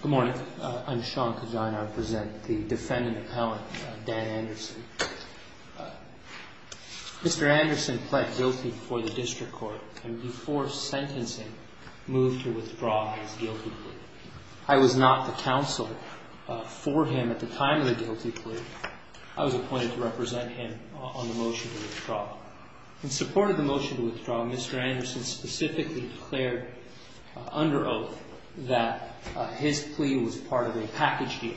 Good morning. I'm Sean Cazano. I present the defendant appellant Dan Anderson. Mr. Anderson pled guilty before the district court and before sentencing moved to withdraw his guilty plea. I was not the counsel for him at the time of the guilty plea. I was appointed to represent him on the motion to withdraw. In support of the motion to withdraw, Mr. Anderson specifically declared under oath that his plea was part of a package deal.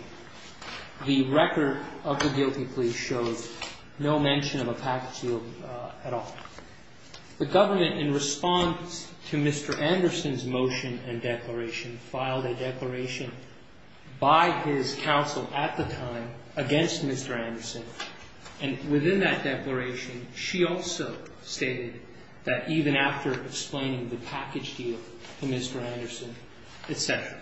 The record of the guilty plea shows no mention of a package deal at all. The government, in response to Mr. Anderson's motion and declaration, filed a declaration by his counsel at the time against Mr. Anderson. And within that declaration, she also stated that even after explaining the package deal to Mr. Anderson, etc.,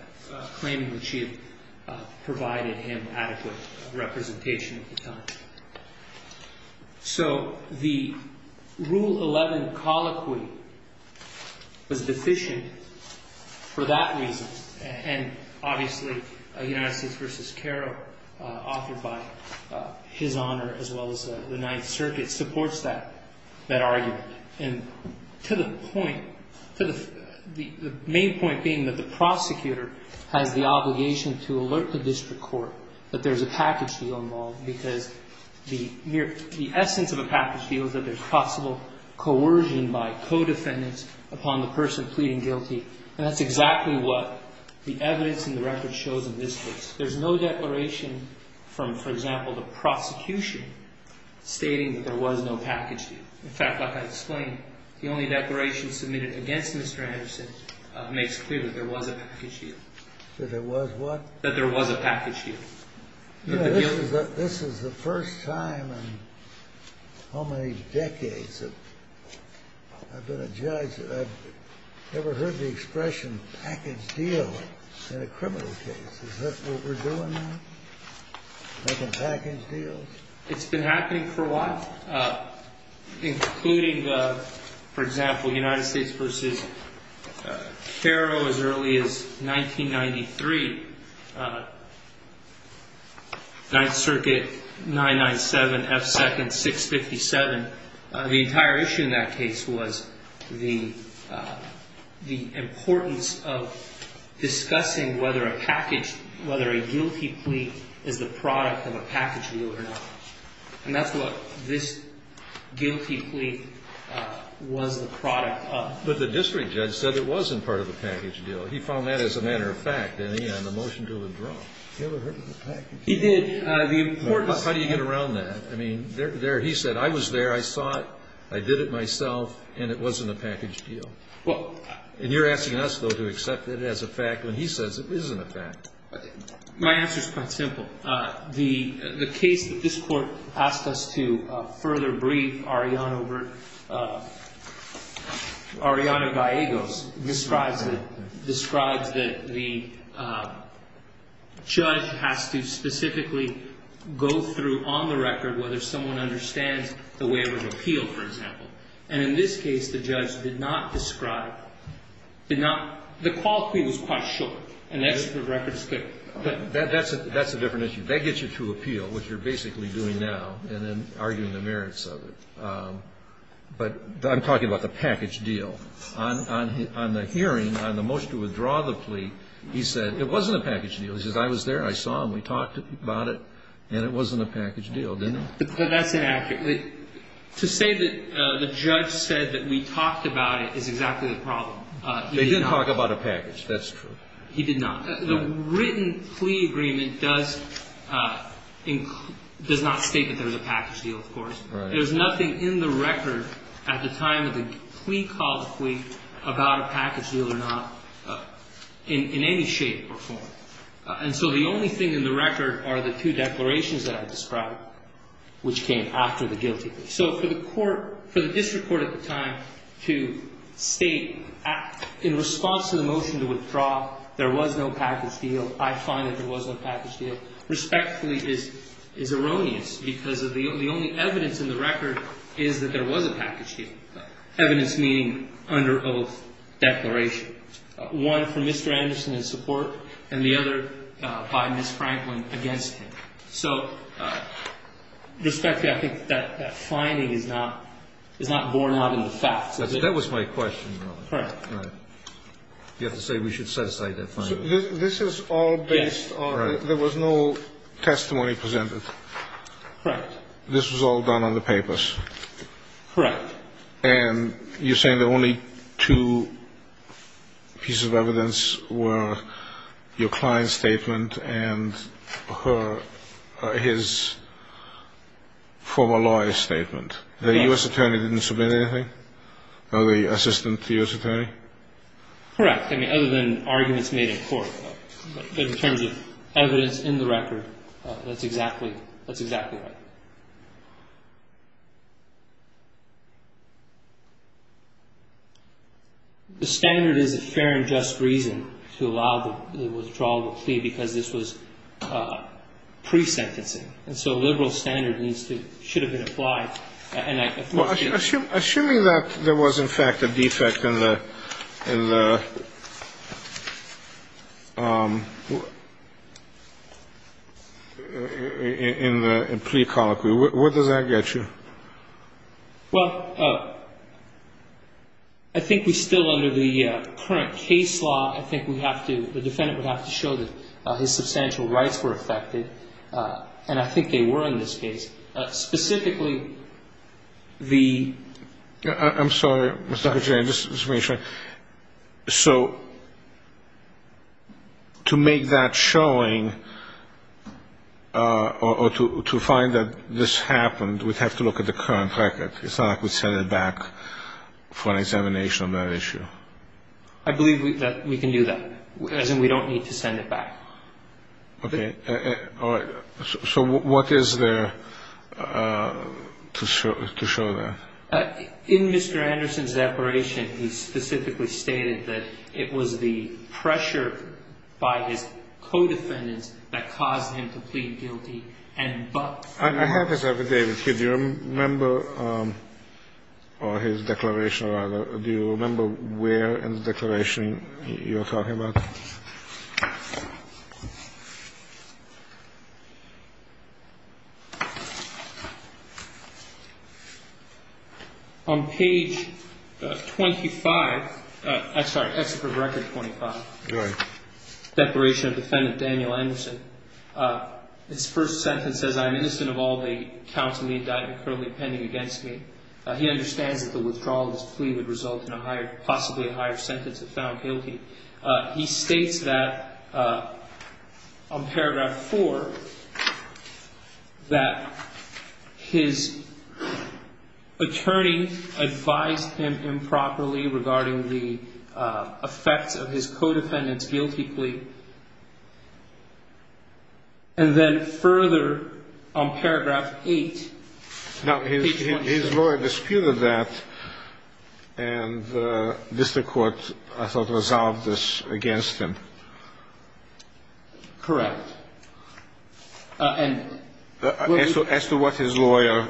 claiming that she had provided him adequate representation at the time. So the Rule 11 colloquy was deficient for that reason. And obviously, United States v. Caro, authored by His Honor as well as the Ninth Circuit, supports that argument. And to the point, the main point being that the prosecutor has the obligation to alert the district court that there's a package deal involved because the essence of a package deal is that there's possible coercion by co-defendants upon the person pleading guilty. And that's exactly what the evidence in the record shows in this case. There's no declaration from, for example, the prosecution stating that there was no package deal. In fact, like I explained, the only declaration submitted against Mr. Anderson makes clear that there was a package deal. That there was what? That there was a package deal. This is the first time in how many decades that I've been a judge that I've never heard the expression package deal in a criminal case. Is that what we're doing now? Making package deals? It's been happening for a while, including, for example, United States v. Caro as early as 1993. Ninth Circuit 997 F. Second 657. The entire issue in that case was the importance of discussing whether a package, whether a guilty plea is the product of a package deal or not. And that's what this guilty plea was the product of. But the district judge said it wasn't part of the package deal. He found that as a matter of fact, and he had a motion to withdraw. He never heard of a package deal. He did. How do you get around that? I mean, there he said, I was there, I saw it, I did it myself, and it wasn't a package deal. And you're asking us, though, to accept it as a fact when he says it isn't a fact. My answer is quite simple. The case that this Court asked us to further brief, Ariana Gallegos, describes that the judge has to specifically go through on the record whether someone understands the way it was appealed, for example. And in this case, the judge did not describe, did not, the quality was quite short. That's a different issue. That gets you to appeal, which you're basically doing now, and then arguing the merits of it. But I'm talking about the package deal. On the hearing, on the motion to withdraw the plea, he said it wasn't a package deal. He says, I was there, I saw him, we talked about it, and it wasn't a package deal, didn't it? But that's inaccurate. To say that the judge said that we talked about it is exactly the problem. They didn't talk about a package. That's true. He did not. The written plea agreement does not state that there was a package deal, of course. There's nothing in the record at the time of the plea called plea about a package deal or not in any shape or form. And so the only thing in the record are the two declarations that I described, which came after the guilty plea. So for the court, for the district court at the time to state in response to the motion to withdraw, there was no package deal, I find that there was no package deal, respectfully is erroneous because the only evidence in the record is that there was a package deal, evidence meaning under oath declaration, one from Mr. Anderson in support and the other by Ms. Franklin against him. So, respectfully, I think that finding is not borne out in the facts. That was my question. Correct. You have to say we should set aside that finding. This is all based on there was no testimony presented. Correct. This was all done on the papers. Correct. And you're saying the only two pieces of evidence were your client's statement and her, his former lawyer's statement. The U.S. attorney didn't submit anything? Or the assistant U.S. attorney? Correct. In terms of evidence in the record, that's exactly, that's exactly right. The standard is a fair and just reason to allow the withdrawal of a plea because this was pre-sentencing. And so a liberal standard needs to, should have been applied. Assuming that there was, in fact, a defect in the, in the plea colloquy, where does that get you? Well, I think we still under the current case law, I think we have to, the defendant would have to show that his substantial rights were affected. And I think they were in this case. Specifically, the. I'm sorry, Mr. Kucinian, just to make sure. So to make that showing or to find that this happened, we'd have to look at the current record. It's not like we'd send it back for an examination on that issue. I believe that we can do that. As in we don't need to send it back. Okay. All right. So what is there to show that? In Mr. Anderson's declaration, he specifically stated that it was the pressure by his co-defendants that caused him to plead guilty and but. I have this with David. Do you remember his declaration? Do you remember where in the declaration you're talking about? On page 25. I'm sorry, record 25. Right. Declaration of defendant Daniel Anderson. This first sentence says I'm innocent of all the counts in the indictment currently pending against me. He understands that the withdrawal of this plea would result in a higher, possibly a higher sentence if found guilty. He states that on paragraph 4, that his attorney advised him improperly regarding the effects of his co-defendants guilty plea. And then further on paragraph 8. Now, his lawyer disputed that and the district court, I thought, resolved this against him. Correct. As to what his lawyer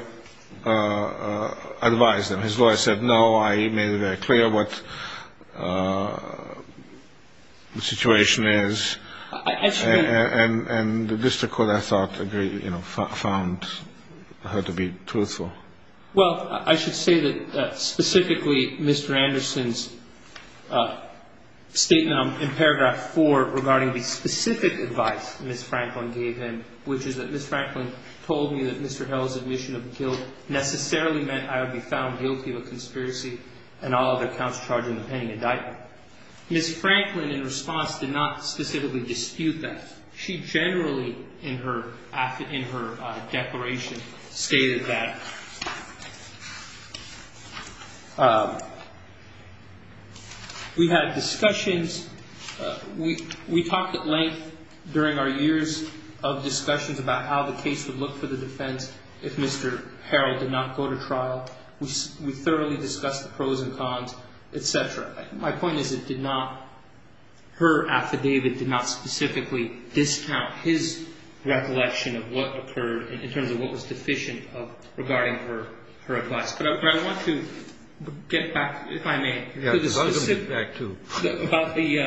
advised him. His lawyer said, no, I made it very clear what the situation is. And the district court, I thought, found her to be truthful. Well, I should say that specifically Mr. Anderson's statement in paragraph 4 regarding the specific advice Ms. Franklin gave him, which is that Ms. Franklin told me that Mr. Harrell's admission of guilt necessarily meant I would be found guilty of a conspiracy and all other counts charged in the pending indictment. Ms. Franklin, in response, did not specifically dispute that. She generally, in her declaration, stated that we had discussions. We talked at length during our years of discussions about how the case would look for the defense if Mr. Harrell did not go to trial. We thoroughly discussed the pros and cons, et cetera. My point is it did not, her affidavit did not specifically discount his recollection of what occurred in terms of what was deficient regarding her advice. But I want to get back, if I may. Yes, I want to get back to. About the,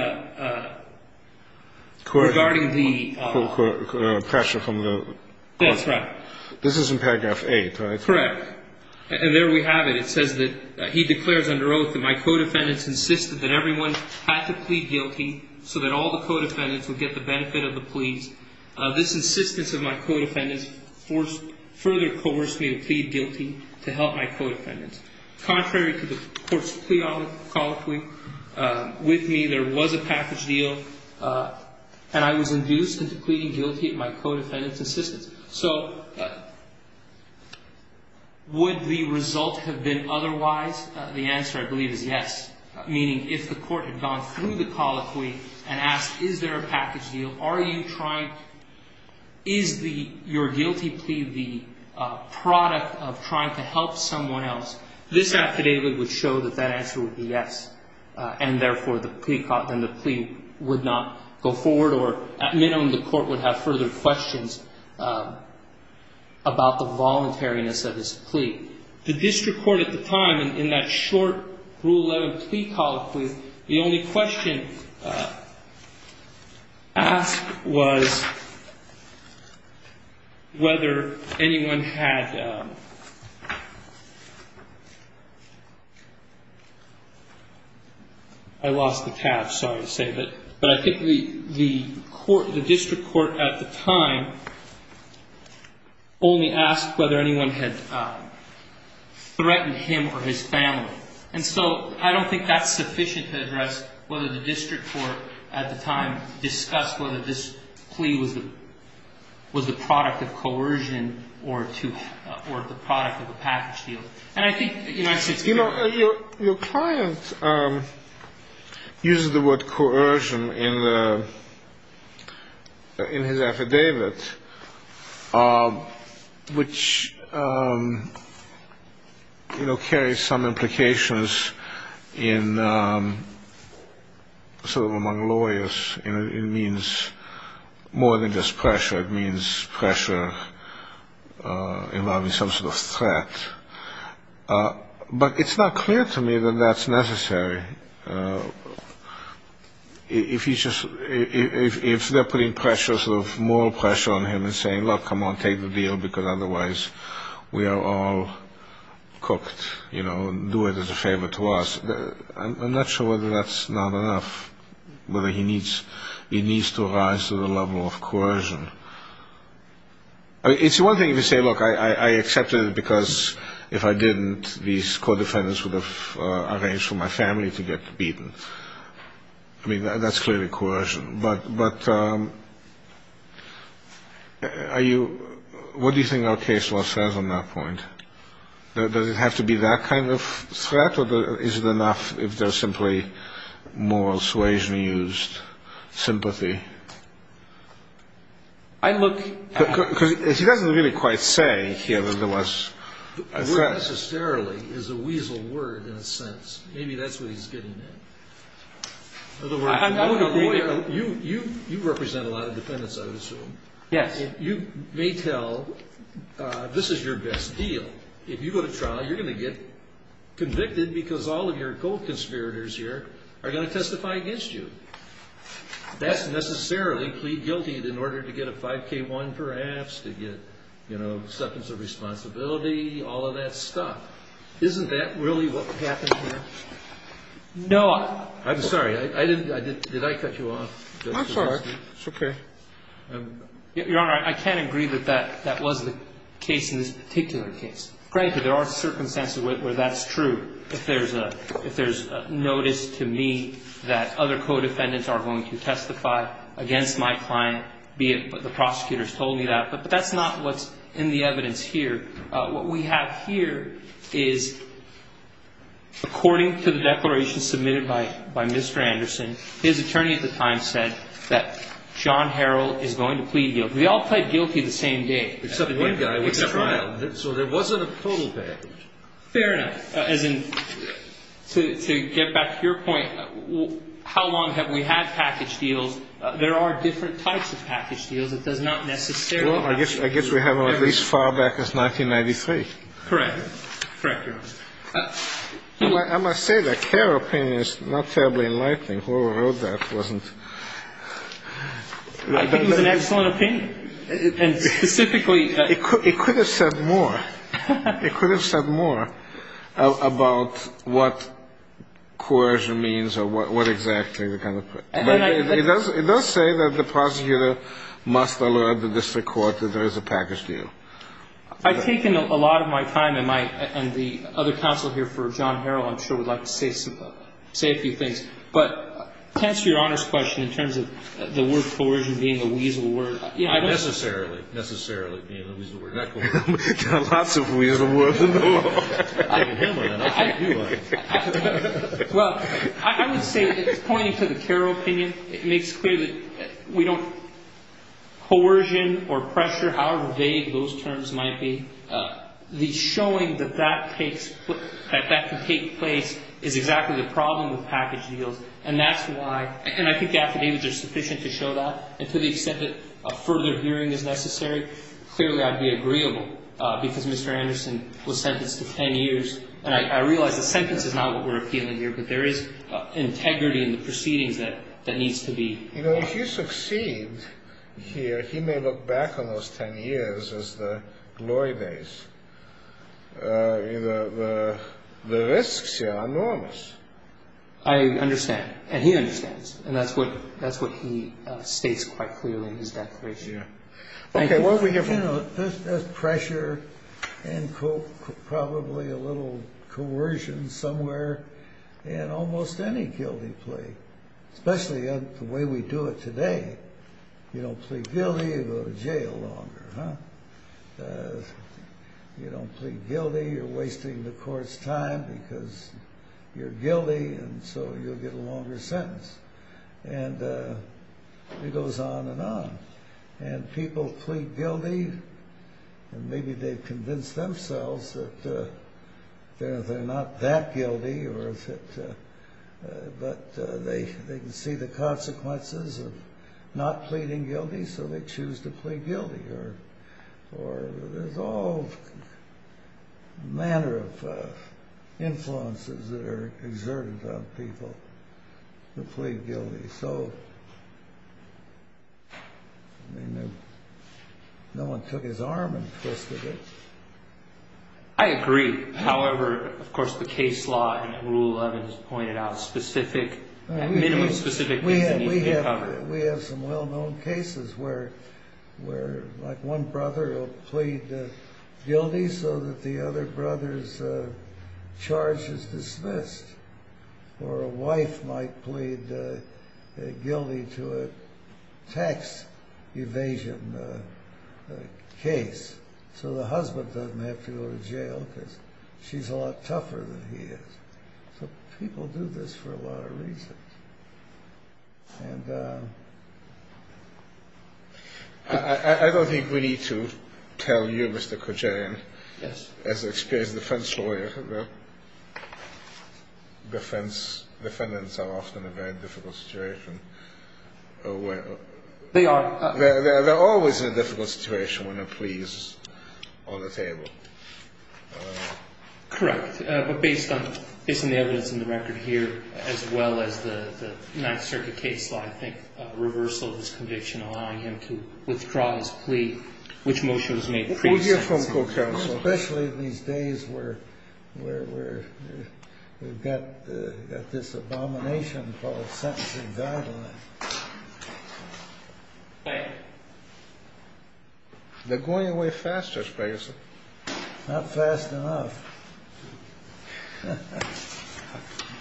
regarding the. Pressure from the. That's right. This is in paragraph 8, right? Correct. And there we have it. It says that he declares under oath that my co-defendants insisted that everyone had to plead guilty so that all the co-defendants would get the benefit of the pleas. This insistence of my co-defendants further coerced me to plead guilty to help my co-defendants. Contrary to the court's plea, there was a package deal, and I was induced into pleading guilty at my co-defendants' insistence. So would the result have been otherwise? The answer, I believe, is yes. Meaning if the court had gone through the colloquy and asked, is there a package deal? Are you trying, is the, your guilty plea the product of trying to help someone else? This affidavit would show that that answer would be yes. And therefore, the plea would not go forward, or at minimum, the court would have further questions about the voluntariness of his plea. The district court at the time, in that short Rule 11 plea colloquy, the only question asked was whether anyone had, I lost the tab, sorry to say, but I think the court, the district court at the time, only asked whether anyone had threatened him or his family. And so I don't think that's sufficient to address whether the district court at the time discussed whether this plea was the, was the product of coercion or to, or the product of a package deal. Your client uses the word coercion in the, in his affidavit, which, you know, carries some implications in sort of among lawyers, and it means more than just pressure, it means pressure involving some sort of threat. But it's not clear to me that that's necessary. If he's just, if they're putting pressure, sort of moral pressure on him and saying, look, come on, take the deal, because otherwise we are all cooked, you know, do it as a favor to us. I'm not sure whether that's not enough, whether he needs, he needs to rise to the level of coercion. I mean, it's one thing if you say, look, I accepted it because if I didn't, these co-defendants would have arranged for my family to get beaten. I mean, that's clearly coercion. But are you, what do you think our case law says on that point? Does it have to be that kind of threat, or is it enough if there's simply moral suasion used, sympathy? Because he doesn't really quite say he underlies a threat. Not necessarily is a weasel word in a sense. Maybe that's what he's getting at. I would agree there. You represent a lot of defendants, I would assume. Yes. You may tell, this is your best deal. If you go to trial, you're going to get convicted because all of your co-conspirators here are going to testify against you. That's necessarily plead guilty in order to get a 5K1 perhaps, to get, you know, acceptance of responsibility, all of that stuff. Isn't that really what happened here? No. I'm sorry. I didn't, did I cut you off? I'm sorry. It's okay. Your Honor, I can agree that that was the case in this particular case. Frankly, there are circumstances where that's true. If there's a notice to me that other co-defendants are going to testify against my client, be it the prosecutors told me that, but that's not what's in the evidence here. What we have here is, according to the declaration submitted by Mr. Anderson, his attorney at the time said that John Harrell is going to plead guilty. We all pled guilty the same day. Except one guy went to trial. So there wasn't a total package. Fair enough. As in, to get back to your point, how long have we had package deals? There are different types of package deals. It does not necessarily have to be. Well, I guess we have them at least as far back as 1993. Correct. Correct, Your Honor. I must say that Kerr opinion is not terribly enlightening. Whoever wrote that wasn't. I think it was an excellent opinion. And specifically ---- It could have said more. It could have said more about what coercion means or what exactly the kind of ---- But it does say that the prosecutor must alert the district court that there is a package deal. I've taken a lot of my time, and the other counsel here for John Harrell I'm sure would like to say a few things. But to answer Your Honor's question in terms of the word coercion being a weasel word. Not necessarily, necessarily being a weasel word. There are lots of weasel words in the world. Well, I would say it's pointing to the Kerr opinion. It makes clear that we don't ---- coercion or pressure, however vague those terms might be, the showing that that takes ---- that that can take place is exactly the problem with package deals. And that's why ---- and I think the affidavits are sufficient to show that. And to the extent that further hearing is necessary, clearly I'd be agreeable because Mr. Anderson was sentenced to 10 years. And I realize the sentence is not what we're appealing here, but there is integrity in the proceedings that needs to be ---- You know, if you succeed here, he may look back on those 10 years as the glory days. The risks are enormous. I understand. And he understands. And that's what he states quite clearly in his declaration. Thank you. You know, there's pressure and probably a little coercion somewhere in almost any guilty plea, especially in the way we do it today. You don't plead guilty, you go to jail longer. You don't plead guilty, you're wasting the court's time because you're guilty and so you'll get a longer sentence. And it goes on and on. And people plead guilty and maybe they've convinced themselves that they're not that guilty or that ---- But they can see the consequences of not pleading guilty, so they choose to plead guilty. Or there's all manner of influences that are exerted on people who plead guilty. So, I mean, no one took his arm and twisted it. I agree. However, of course, the case law in Rule 11 has pointed out specific, at minimum specific cases that need to be covered. We have some well-known cases where like one brother will plead guilty so that the other brother's charge is dismissed. Or a wife might plead guilty to a tax evasion case. So the husband doesn't have to go to jail because she's a lot tougher than he is. So people do this for a lot of reasons. And I don't think we need to tell you, Mr. Kojarian. Yes. As an experienced defense lawyer, defense defendants are often a very difficult situation. They are. They're always in a difficult situation when a plea is on the table. Correct. But based on the evidence in the record here, as well as the Ninth Circuit case law, I think reversal of his conviction, allowing him to withdraw his plea, which motion was made pre-sentencing. Especially these days where we've got this abomination called sentencing guidelines. Thank you. They're going away faster, Sprague. Not fast enough.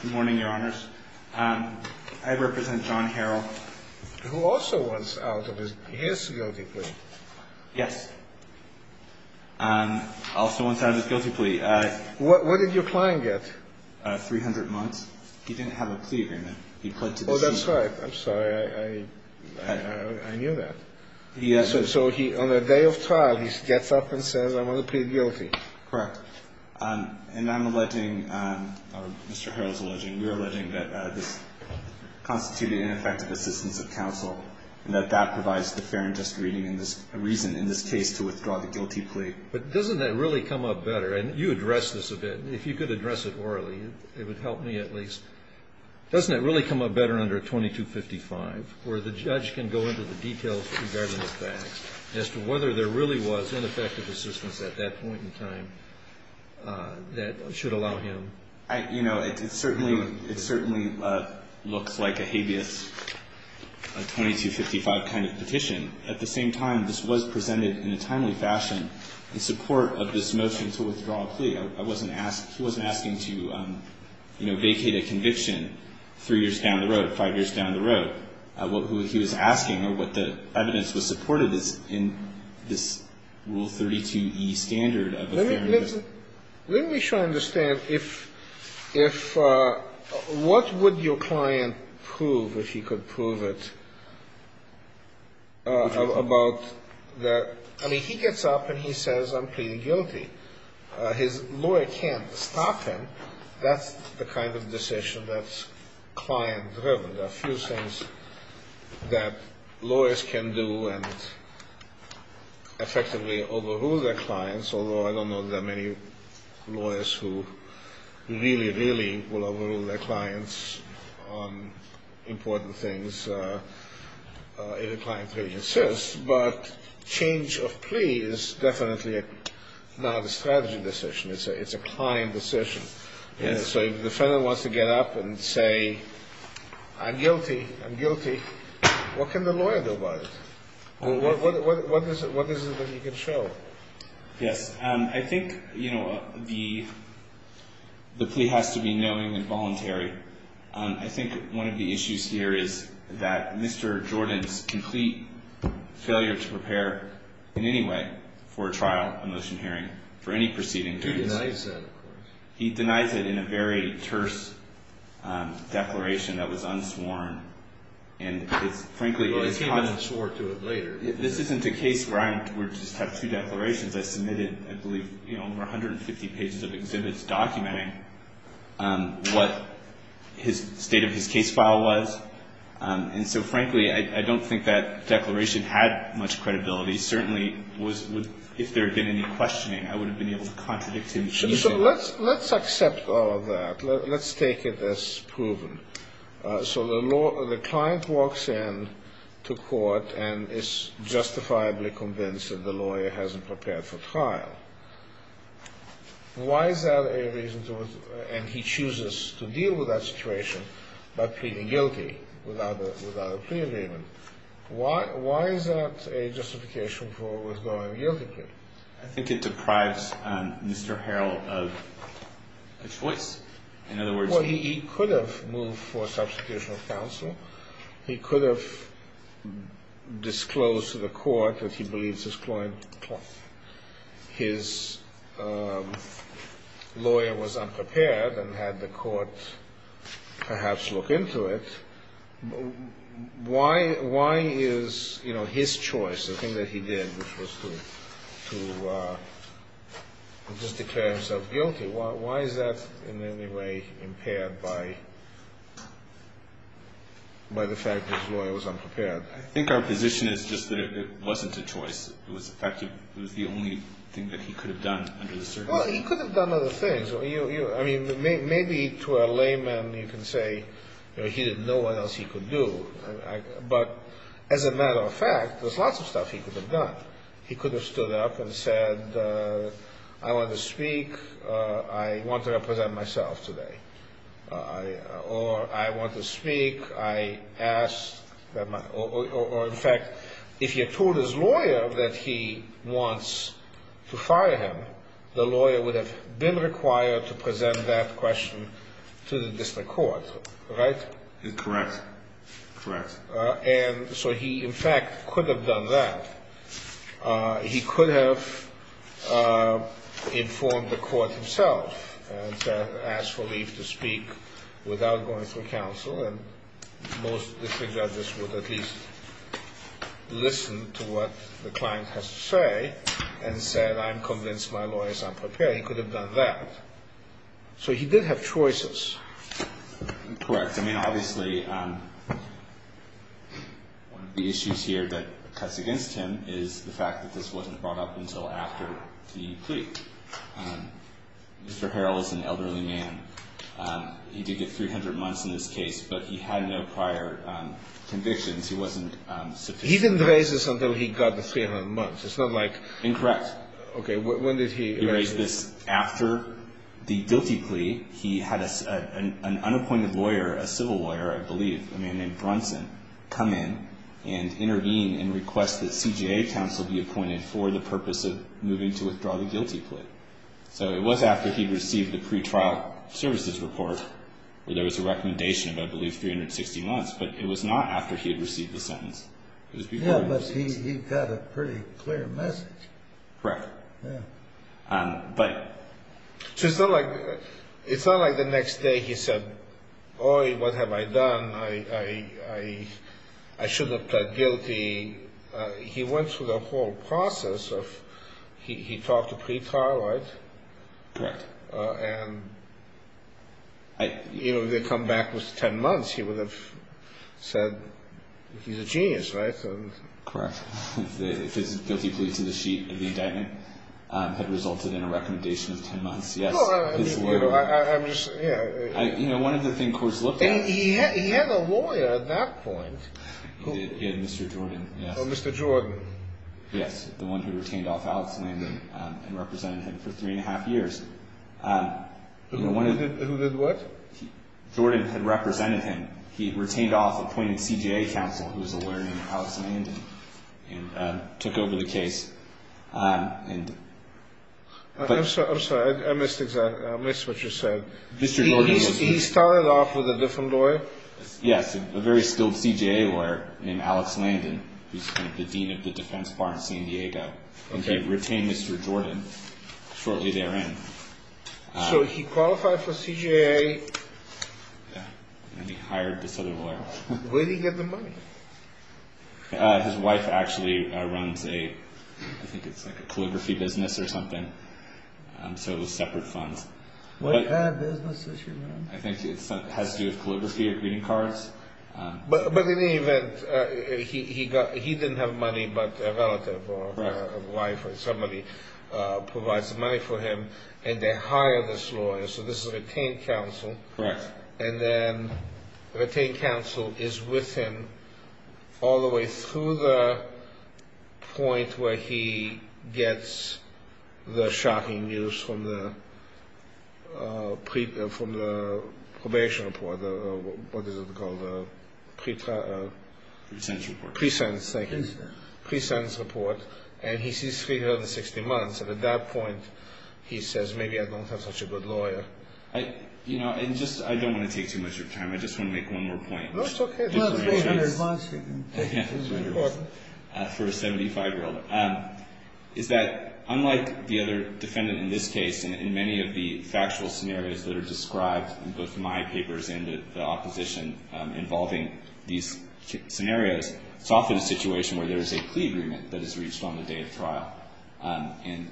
Good morning, Your Honors. I represent John Harrell. Who also was out of his guilty plea. Yes. Also was out of his guilty plea. What did your client get? 300 months. He didn't have a plea agreement. Oh, that's right. I'm sorry. I knew that. So on the day of trial, he gets up and says, I'm going to plead guilty. Correct. And I'm alleging, or Mr. Harrell's alleging, we're alleging that this constituted ineffective assistance of counsel, and that that provides the fair and just reason in this case to withdraw the guilty plea. But doesn't that really come up better? And you addressed this a bit. If you could address it orally, it would help me at least. Doesn't it really come up better under 2255 where the judge can go into the details regarding the facts as to whether there really was ineffective assistance at that point in time that should allow him? You know, it certainly looks like a habeas 2255 kind of petition. At the same time, this was presented in a timely fashion in support of this motion to withdraw a plea. He wasn't asking to, you know, vacate a conviction three years down the road, five years down the road. What he was asking or what the evidence was supported is in this Rule 32e standard of a fair and just. Let me make sure I understand. If what would your client prove if he could prove it about that? I mean, he gets up and he says, I'm pleading guilty. His lawyer can't stop him. That's the kind of decision that's client-driven. There are a few things that lawyers can do and effectively overrule their clients, although I don't know that there are many lawyers who really, really will overrule their clients on important things. A client really insists. But change of plea is definitely not a strategy decision. It's a client decision. So if the defendant wants to get up and say, I'm guilty, I'm guilty, what can the lawyer do about it? What is it that he can show? Yes, I think, you know, the plea has to be knowing and voluntary. I think one of the issues here is that Mr. Jordan's complete failure to prepare in any way for a trial, a motion hearing, for any proceeding. Who denies that, of course? He denies it in a very terse declaration that was unsworn. And frankly, it's hard. Well, he came in short to it later. This isn't a case where I just have two declarations. I submitted, I believe, over 150 pages of exhibits documenting what his state of his case file was. And so, frankly, I don't think that declaration had much credibility. Certainly, if there had been any questioning, I would have been able to contradict him easily. So let's accept all of that. Let's take it as proven. So the client walks in to court and is justifiably convinced that the lawyer hasn't prepared for trial. Why is that a reason to, and he chooses to deal with that situation by pleading guilty without a plea agreement? Why is that a justification for a withdrawing guilty plea? I think it deprives Mr. Harrell of a choice. Well, he could have moved for a substitution of counsel. He could have disclosed to the court that he believes his lawyer was unprepared and had the court perhaps look into it. Why is his choice, the thing that he did, which was to just declare himself guilty, why is that in any way impaired by the fact that his lawyer was unprepared? I think our position is just that it wasn't a choice. It was the fact that it was the only thing that he could have done under the circumstances. Well, he could have done other things. I mean, maybe to a layman you can say he didn't know what else he could do. But as a matter of fact, there's lots of stuff he could have done. He could have stood up and said, I want to speak. I want to represent myself today. Or I want to speak. I asked. Or, in fact, if you told his lawyer that he wants to fire him, the lawyer would have been required to present that question to the district court. Right? Correct. Correct. And so he, in fact, could have done that. He could have informed the court himself and asked for leave to speak without going through counsel. And most of the judges would at least listen to what the client has to say and said, I'm convinced my lawyer is unprepared. He could have done that. So he did have choices. Correct. I mean, obviously, one of the issues here that cuts against him is the fact that this wasn't brought up until after the plea. Mr. Harrell is an elderly man. He did get 300 months in this case, but he had no prior convictions. He wasn't subpoenaed. He didn't raise this until he got the 300 months. It's not like. Incorrect. Okay. When did he raise this? It was after the guilty plea. He had an unappointed lawyer, a civil lawyer, I believe, a man named Brunson, come in and intervene and request that CJA counsel be appointed for the purpose of moving to withdraw the guilty plea. So it was after he received the pretrial services report where there was a recommendation of, I believe, 360 months, but it was not after he had received the sentence. Yeah, but he got a pretty clear message. Correct. Yeah. But. So it's not like the next day he said, boy, what have I done? I shouldn't have pled guilty. He went through the whole process of he talked to pretrial, right? Correct. And, you know, if he had come back with 10 months, he would have said, he's a genius, right? Correct. If his guilty plea to the sheet of the indictment had resulted in a recommendation of 10 months. Yes. You know, one of the things courts looked at. He had a lawyer at that point. He had Mr. Jordan. Oh, Mr. Jordan. Yes. The one who retained off Alex Landon and represented him for three and a half years. Who did what? Jordan had represented him. He retained off appointed CJA counsel who was a lawyer named Alex Landon and took over the case. I'm sorry. I missed what you said. Mr. Jordan. He started off with a different lawyer? Yes. A very skilled CJA lawyer named Alex Landon, who's the dean of the defense bar in San Diego. And he retained Mr. Jordan shortly therein. So he qualified for CJA. Yes. And he hired this other lawyer. Where did he get the money? His wife actually runs a, I think it's like a calligraphy business or something. So it was separate funds. What kind of business does she run? I think it has to do with calligraphy or greeting cards. But in any event, he didn't have money, but a relative or a wife or somebody provides money for him. And they hired this lawyer. So this is a retained counsel. Correct. And then the retained counsel is with him all the way through the point where he gets the shocking news from the probation report. What is it called? Pre-sentence report. Pre-sentence. Thank you. Pre-sentence report. And he sees 360 months. And at that point, he says, maybe I don't have such a good lawyer. You know, I don't want to take too much of your time. I just want to make one more point. No, it's okay. It's way in advance. It's very important. For a 75-year-old. Is that unlike the other defendant in this case and in many of the factual scenarios that are described in both my papers and the opposition involving these scenarios, it's often a situation where there is a plea agreement that is reached on the day of trial. And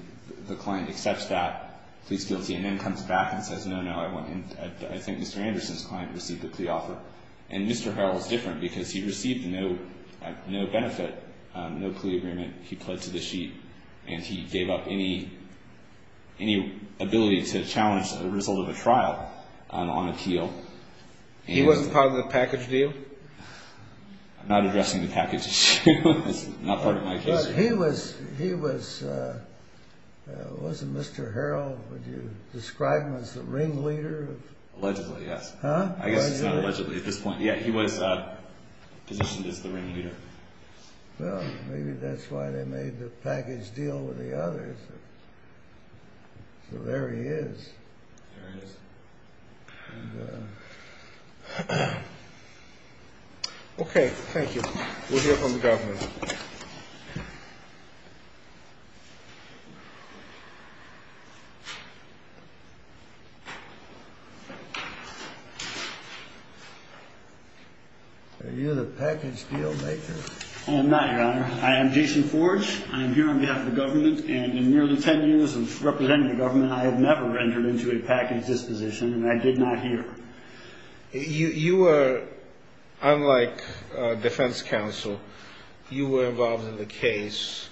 the client accepts that, pleads guilty, and then comes back and says, no, no. I think Mr. Anderson's client received a plea offer. And Mr. Harrell is different because he received no benefit, no plea agreement. He pled to the sheet. And he gave up any ability to challenge the result of a trial on appeal. He wasn't part of the package deal? I'm not addressing the package issue. It's not part of my case. He was, wasn't Mr. Harrell, would you describe him as the ringleader? Allegedly, yes. Huh? I guess it's not allegedly at this point. Yeah, he was positioned as the ringleader. Well, maybe that's why they made the package deal with the others. So there he is. There he is. Okay. Thank you. We'll hear from the government. Are you the package deal maker? I am not, Your Honor. I am Jason Forge. I am here on behalf of the government. And in nearly ten years of representing the government, I have never entered into a package disposition, and I did not here. You were, unlike defense counsel, you were involved in the case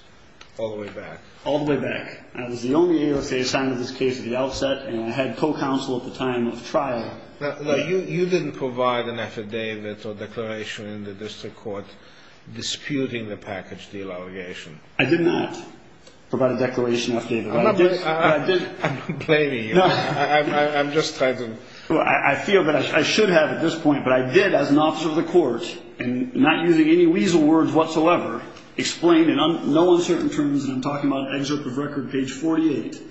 all the way back. All the way back. I was the only ASA assigned to this case at the outset, and I had co-counsel at the time of trial. You didn't provide an affidavit or declaration in the district court disputing the package deal allegation. I did not provide a declaration or affidavit. I'm not blaming you. I'm just trying to. I feel that I should have at this point, but I did as an officer of the court, and not using any weasel words whatsoever, explain in no uncertain terms, and I'm talking about excerpt of record page 48.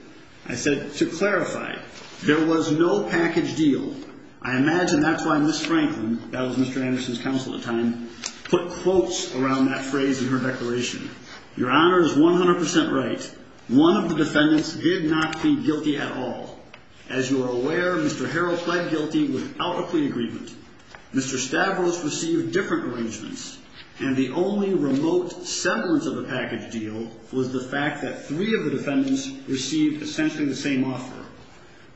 I said, to clarify, there was no package deal. I imagine that's why Ms. Franklin, that was Mr. Anderson's counsel at the time, put quotes around that phrase in her declaration. Your Honor is 100% right. One of the defendants did not plead guilty at all. As you are aware, Mr. Harrell pled guilty without a plea agreement. Mr. Stavros received different arrangements, and the only remote semblance of a package deal was the fact that three of the defendants received essentially the same offer.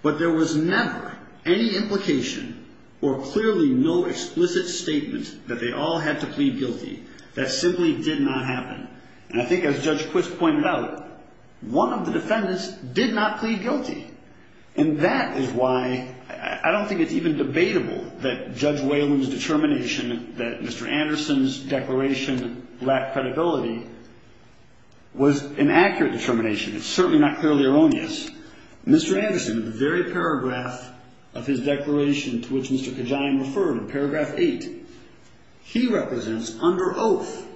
But there was never any implication or clearly no explicit statement that they all had to plead guilty. That simply did not happen. And I think as Judge Quist pointed out, one of the defendants did not plead guilty, and that is why I don't think it's even debatable that Judge Whalen's determination that Mr. Anderson's declaration lacked credibility was an accurate determination. It's certainly not clearly erroneous. Mr. Anderson, the very paragraph of his declaration to which Mr. Kajian referred, paragraph 8, he represents under oath,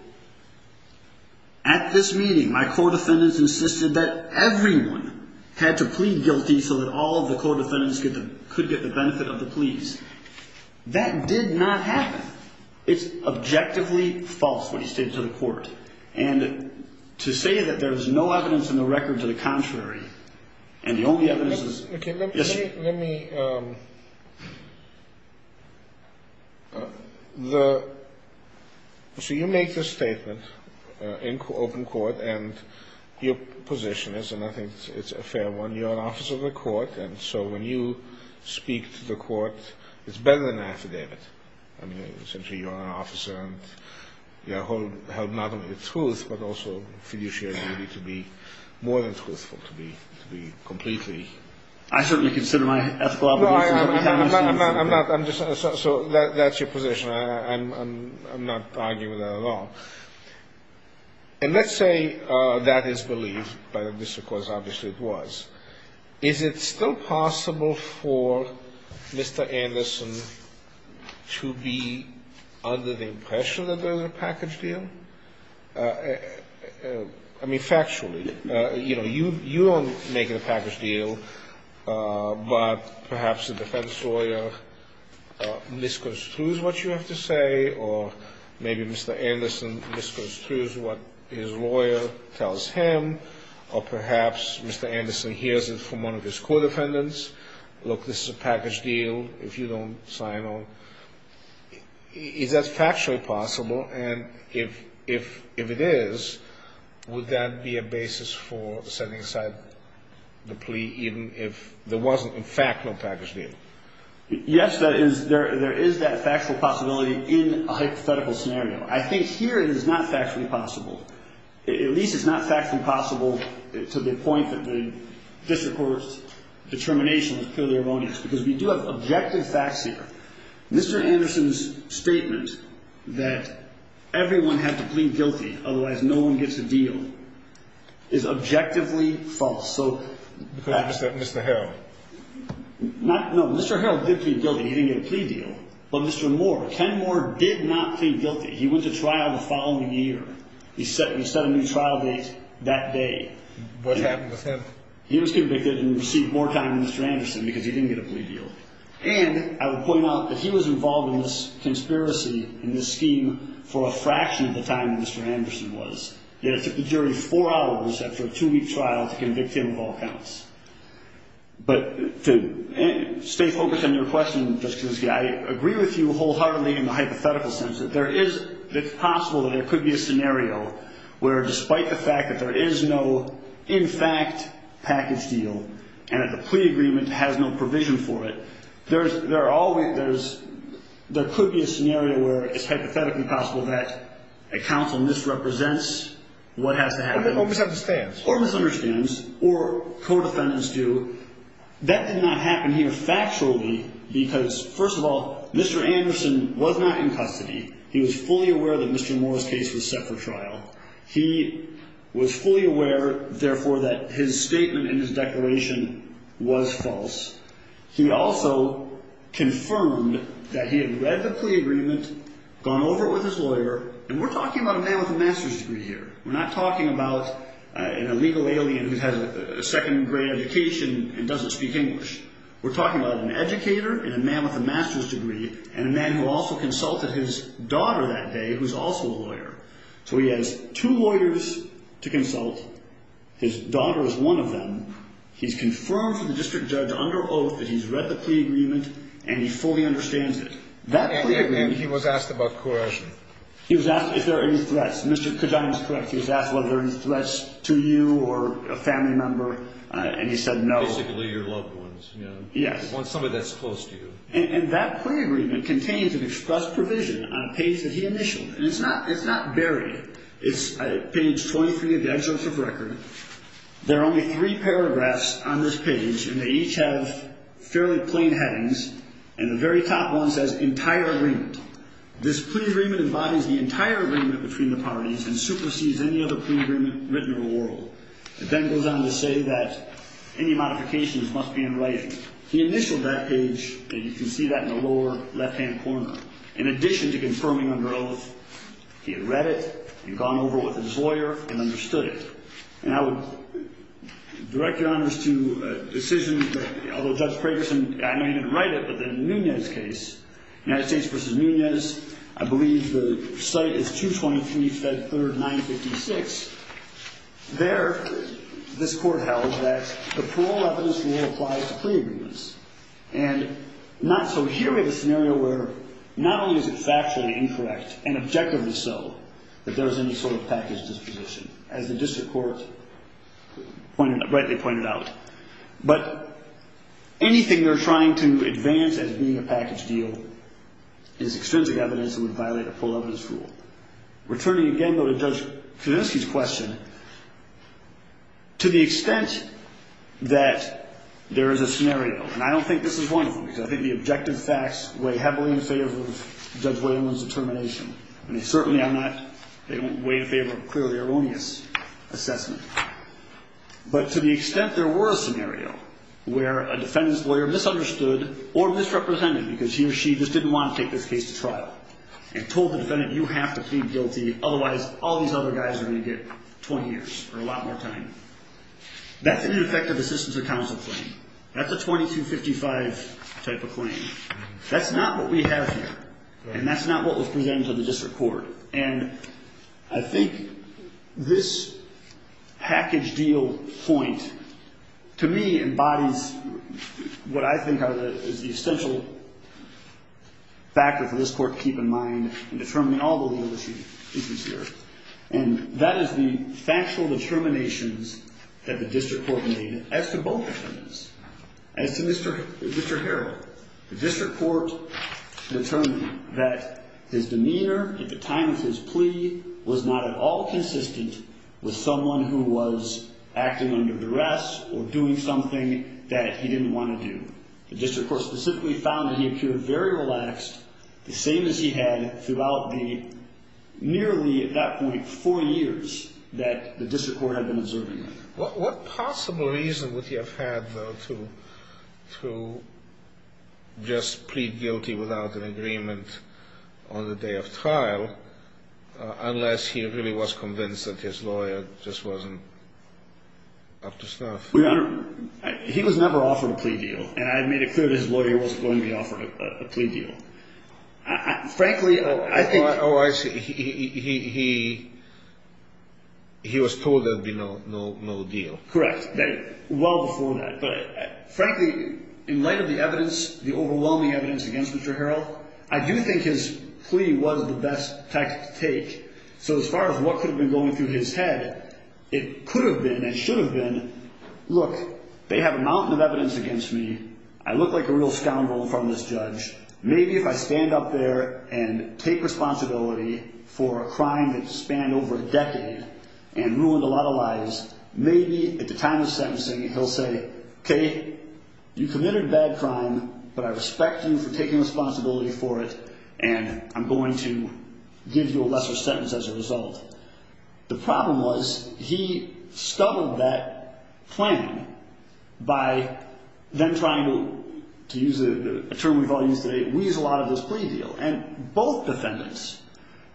at this meeting my court defendants insisted that everyone had to plead guilty so that all of the court defendants could get the benefit of the pleas. That did not happen. It's objectively false what he stated to the court. And to say that there is no evidence in the record to the contrary and the only evidence is Okay, let me... So you make this statement in open court, and your position is, and I think it's a fair one, you're an officer of the court, and so when you speak to the court, it's better than an affidavit. I mean, essentially you're an officer and you help not only the truth, I certainly consider my ethical obligations... So that's your position. I'm not arguing with that at all. And let's say that is believed, but this, of course, obviously it was. Is it still possible for Mr. Anderson to be under the impression that there was a package deal? I mean, factually. You know, you don't make a package deal, but perhaps a defense lawyer misconstrues what you have to say, or maybe Mr. Anderson misconstrues what his lawyer tells him, or perhaps Mr. Anderson hears it from one of his court defendants, look, this is a package deal, if you don't sign on. Is that factually possible? And if it is, would that be a basis for setting aside the plea even if there wasn't, in fact, no package deal? Yes, there is that factual possibility in a hypothetical scenario. I think here it is not factually possible. At least it's not factually possible to the point that the district court's determination is purely erroneous, because we do have objective facts here. Mr. Anderson's statement that everyone had to plead guilty, otherwise no one gets a deal, is objectively false. Because of Mr. Harrell? No, Mr. Harrell did plead guilty. He didn't get a plea deal. But Mr. Moore, Ken Moore did not plead guilty. He went to trial the following year. He set a new trial date that day. What happened with him? He was convicted and received more time than Mr. Anderson because he didn't get a plea deal. And I would point out that he was involved in this conspiracy, in this scheme, for a fraction of the time that Mr. Anderson was. Yet it took the jury four hours after a two-week trial to convict him of all counts. But to stay focused on your question, Justice Geis, I agree with you wholeheartedly in the hypothetical sense that it's possible that there could be a scenario where, despite the fact that there is no in-fact package deal and that the plea agreement has no provision for it, there could be a scenario where it's hypothetically possible that a counsel misrepresents what has to happen. Or misunderstands. Or misunderstands, or co-defendants do. That did not happen here factually because, first of all, Mr. Anderson was not in custody. He was fully aware that Mr. Moore's case was set for trial. He was fully aware, therefore, that his statement in his declaration was false. He also confirmed that he had read the plea agreement, gone over it with his lawyer. And we're talking about a man with a master's degree here. We're not talking about an illegal alien who has a second-grade education and doesn't speak English. We're talking about an educator and a man with a master's degree and a man who also consulted his daughter that day who's also a lawyer. So he has two lawyers to consult. His daughter is one of them. He's confirmed to the district judge under oath that he's read the plea agreement and he fully understands it. And he was asked about coercion. He was asked if there are any threats. Mr. Kajan is correct. He was asked whether there are any threats to you or a family member. And he said no. Basically your loved ones. Yes. Someone that's close to you. And that plea agreement contains an express provision on a page that he initialed. And it's not buried. It's page 23 of the excerpt of record. There are only three paragraphs on this page, and they each have fairly plain headings. And the very top one says entire agreement. This plea agreement embodies the entire agreement between the parties and supersedes any other plea agreement written in the world. It then goes on to say that any modifications must be in writing. He initialed that page, and you can see that in the lower left-hand corner. In addition to confirming under oath, he had read it and gone over with his lawyer and understood it. And I would direct your honors to a decision, although Judge Fragerson, I know he didn't write it, but in Nunez's case, United States v. Nunez, I believe the site is 223 Fed Third 956. There this court held that the parole evidence rule applies to plea agreements. And not so here. We have a scenario where not only is it factually incorrect and objectively so that there is any sort of package disposition, as the district court rightly pointed out, but anything they're trying to advance as being a package deal is extrinsic evidence and would violate a parole evidence rule. Returning again, though, to Judge Kuczynski's question, to the extent that there is a scenario, and I don't think this is one of them because I think the objective facts weigh heavily in favor of Judge Whalen's determination, and they certainly are not way in favor of a clearly erroneous assessment. But to the extent there were a scenario where a defendant's lawyer misunderstood or misrepresented because he or she just didn't want to take this case to trial and told the defendant, you have to plead guilty, otherwise all these other guys are going to get 20 years or a lot more time. That's an ineffective assistance of counsel claim. That's a 2255 type of claim. That's not what we have here, and that's not what was presented to the district court. And I think this package deal point to me embodies what I think is the essential factor for this court to keep in mind in determining all the legal issues here, and that is the factual determinations that the district court made as to both defendants. As to Mr. Harrell, the district court determined that his demeanor at the time of his plea was not at all consistent with someone who was acting under duress or doing something that he didn't want to do. The district court specifically found that he appeared very relaxed, the same as he had throughout the nearly, at that point, four years that the district court had been observing him. What possible reason would he have had, though, to just plead guilty without an agreement on the day of trial unless he really was convinced that his lawyer just wasn't up to stuff? He was never offered a plea deal, and I made it clear that his lawyer wasn't going to be offered a plea deal. Frankly, I think... Oh, I see. He was told there would be no deal. Correct. Well before that. But frankly, in light of the evidence, the overwhelming evidence against Mr. Harrell, I do think his plea was the best tactic to take. So as far as what could have been going through his head, it could have been and should have been, look, they have a mountain of evidence against me. I look like a real scoundrel in front of this judge. Maybe if I stand up there and take responsibility for a crime that spanned over a decade and ruined a lot of lives, maybe at the time of sentencing he'll say, OK, you committed a bad crime, but I respect you for taking responsibility for it, and I'm going to give you a lesser sentence as a result. The problem was he stubbled that plan by then trying to use a term we've all used today, weasel out of this plea deal. And both defendants,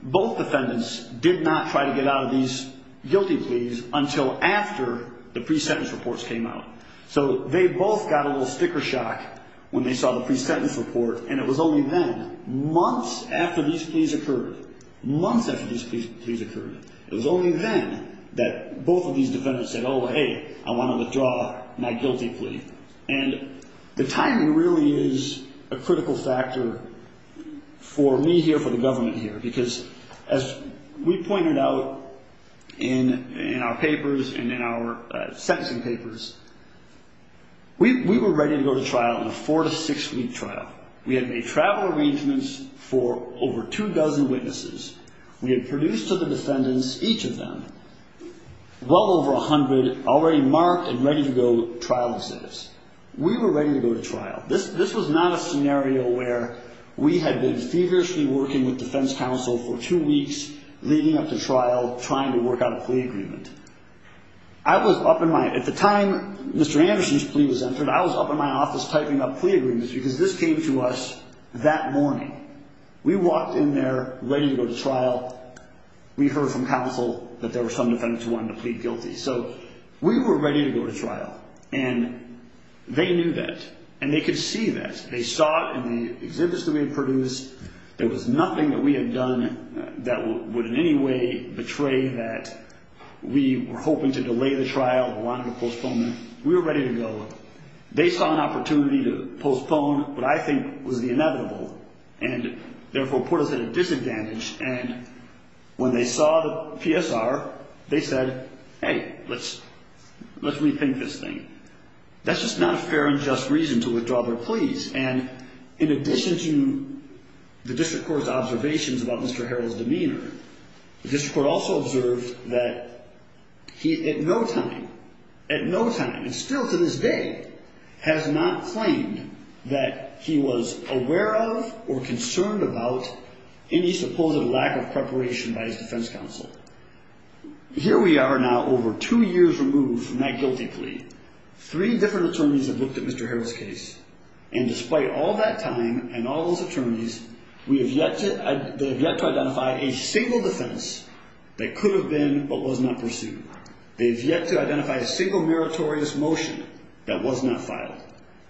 both defendants did not try to get out of these guilty pleas until after the pre-sentence reports came out. So they both got a little sticker shock when they saw the pre-sentence report, and it was only then, months after these pleas occurred, months after these pleas occurred, it was only then that both of these defendants said, oh, hey, I want to withdraw my guilty plea. And the timing really is a critical factor for me here, for the government here, because as we pointed out in our papers and in our sentencing papers, we were ready to go to trial in a four- to six-week trial. We had made travel arrangements for over two dozen witnesses. We had produced to the defendants, each of them, well over a hundred already marked and ready-to-go trial exhibits. We were ready to go to trial. This was not a scenario where we had been feverishly working with defense counsel for two weeks leading up to trial, trying to work out a plea agreement. At the time Mr. Anderson's plea was entered, I was up in my office typing up plea agreements because this came to us that morning. We walked in there ready to go to trial. We heard from counsel that there were some defendants who wanted to plead guilty. So we were ready to go to trial, and they knew that, and they could see that. They saw it in the exhibits that we had produced. There was nothing that we had done that would in any way betray that we were hoping to delay the trial or wanted to postpone it. We were ready to go. They saw an opportunity to postpone what I think was the inevitable and therefore put us at a disadvantage. And when they saw the PSR, they said, hey, let's rethink this thing. That's just not a fair and just reason to withdraw their pleas. And in addition to the district court's observations about Mr. Harrell's demeanor, the district court also observed that he at no time, at no time, and still to this day, has not claimed that he was aware of or concerned about any supposed lack of preparation by his defense counsel. Here we are now over two years removed from that guilty plea. Three different attorneys have looked at Mr. Harrell's case, and despite all that time and all those attorneys, they have yet to identify a single defense that could have been but was not pursued. They have yet to identify a single meritorious motion that was not filed.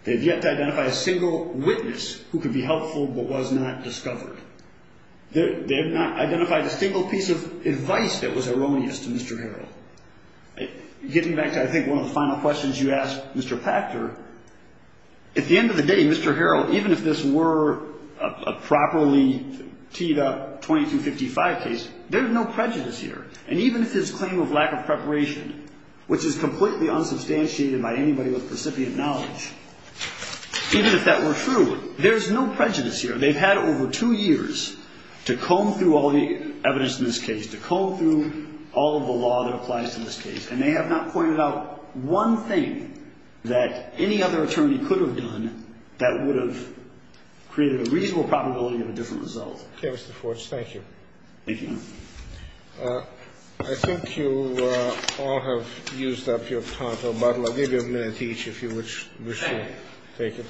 They have yet to identify a single witness who could be helpful but was not discovered. They have not identified a single piece of advice that was erroneous to Mr. Harrell. Getting back to, I think, one of the final questions you asked, Mr. Pachter, at the end of the day, Mr. Harrell, even if this were a properly teed-up 2255 case, there's no prejudice here. And even if his claim of lack of preparation, which is completely unsubstantiated by anybody with recipient knowledge, even if that were true, there's no prejudice here. They've had over two years to comb through all the evidence in this case, to comb through all of the law that applies to this case, and they have not pointed out one thing that any other attorney could have done that would have created a reasonable probability of a different result. Okay, Mr. Forge, thank you. Thank you. I think you all have used up your time. I'll give you a minute each if you wish to take it.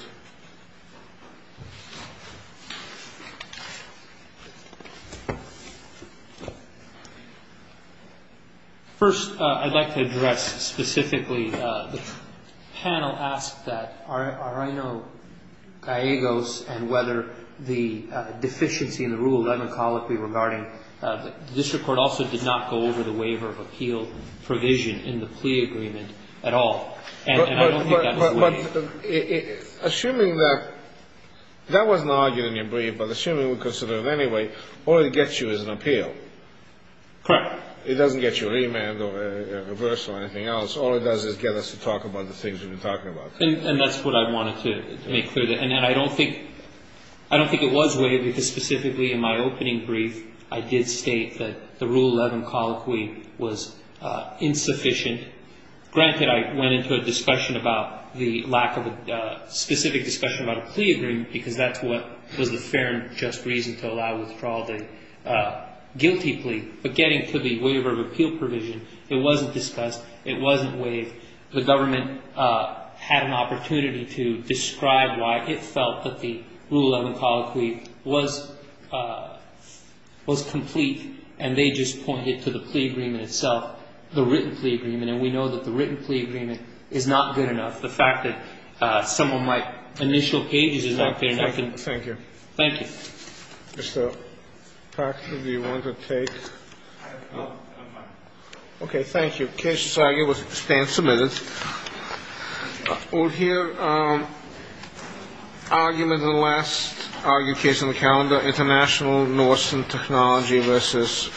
First, I'd like to address specifically the panel asked that are I know Gallegos and whether the deficiency in the rule of ethnicology regarding the district court also did not go over the waiver of appeal provision in the plea agreement at all. And I don't think that was the way. But assuming that that was an argument in your brief, but assuming we consider it anyway, all it gets you is an appeal. Correct. It doesn't get you a remand or a reversal or anything else. All it does is get us to talk about the things we've been talking about. And that's what I wanted to make clear. And I don't think it was waived because specifically in my opening brief, I did state that the Rule 11 colloquy was insufficient. Granted, I went into a discussion about the lack of a specific discussion about a plea agreement because that's what was the fair and just reason to allow withdrawal of a guilty plea. But getting to the waiver of appeal provision, it wasn't discussed. It wasn't waived. The government had an opportunity to describe why it felt that the Rule 11 colloquy was complete, and they just pointed to the plea agreement itself, the written plea agreement. And we know that the written plea agreement is not good enough. The fact that some of my initial pages is not good enough. Thank you. Thank you. Mr. Proctor, do you want to take? No, I'm fine. Okay. Case decided. Stand submitted. We'll hear argument in the last argued case on the calendar, international Norse and technology versus.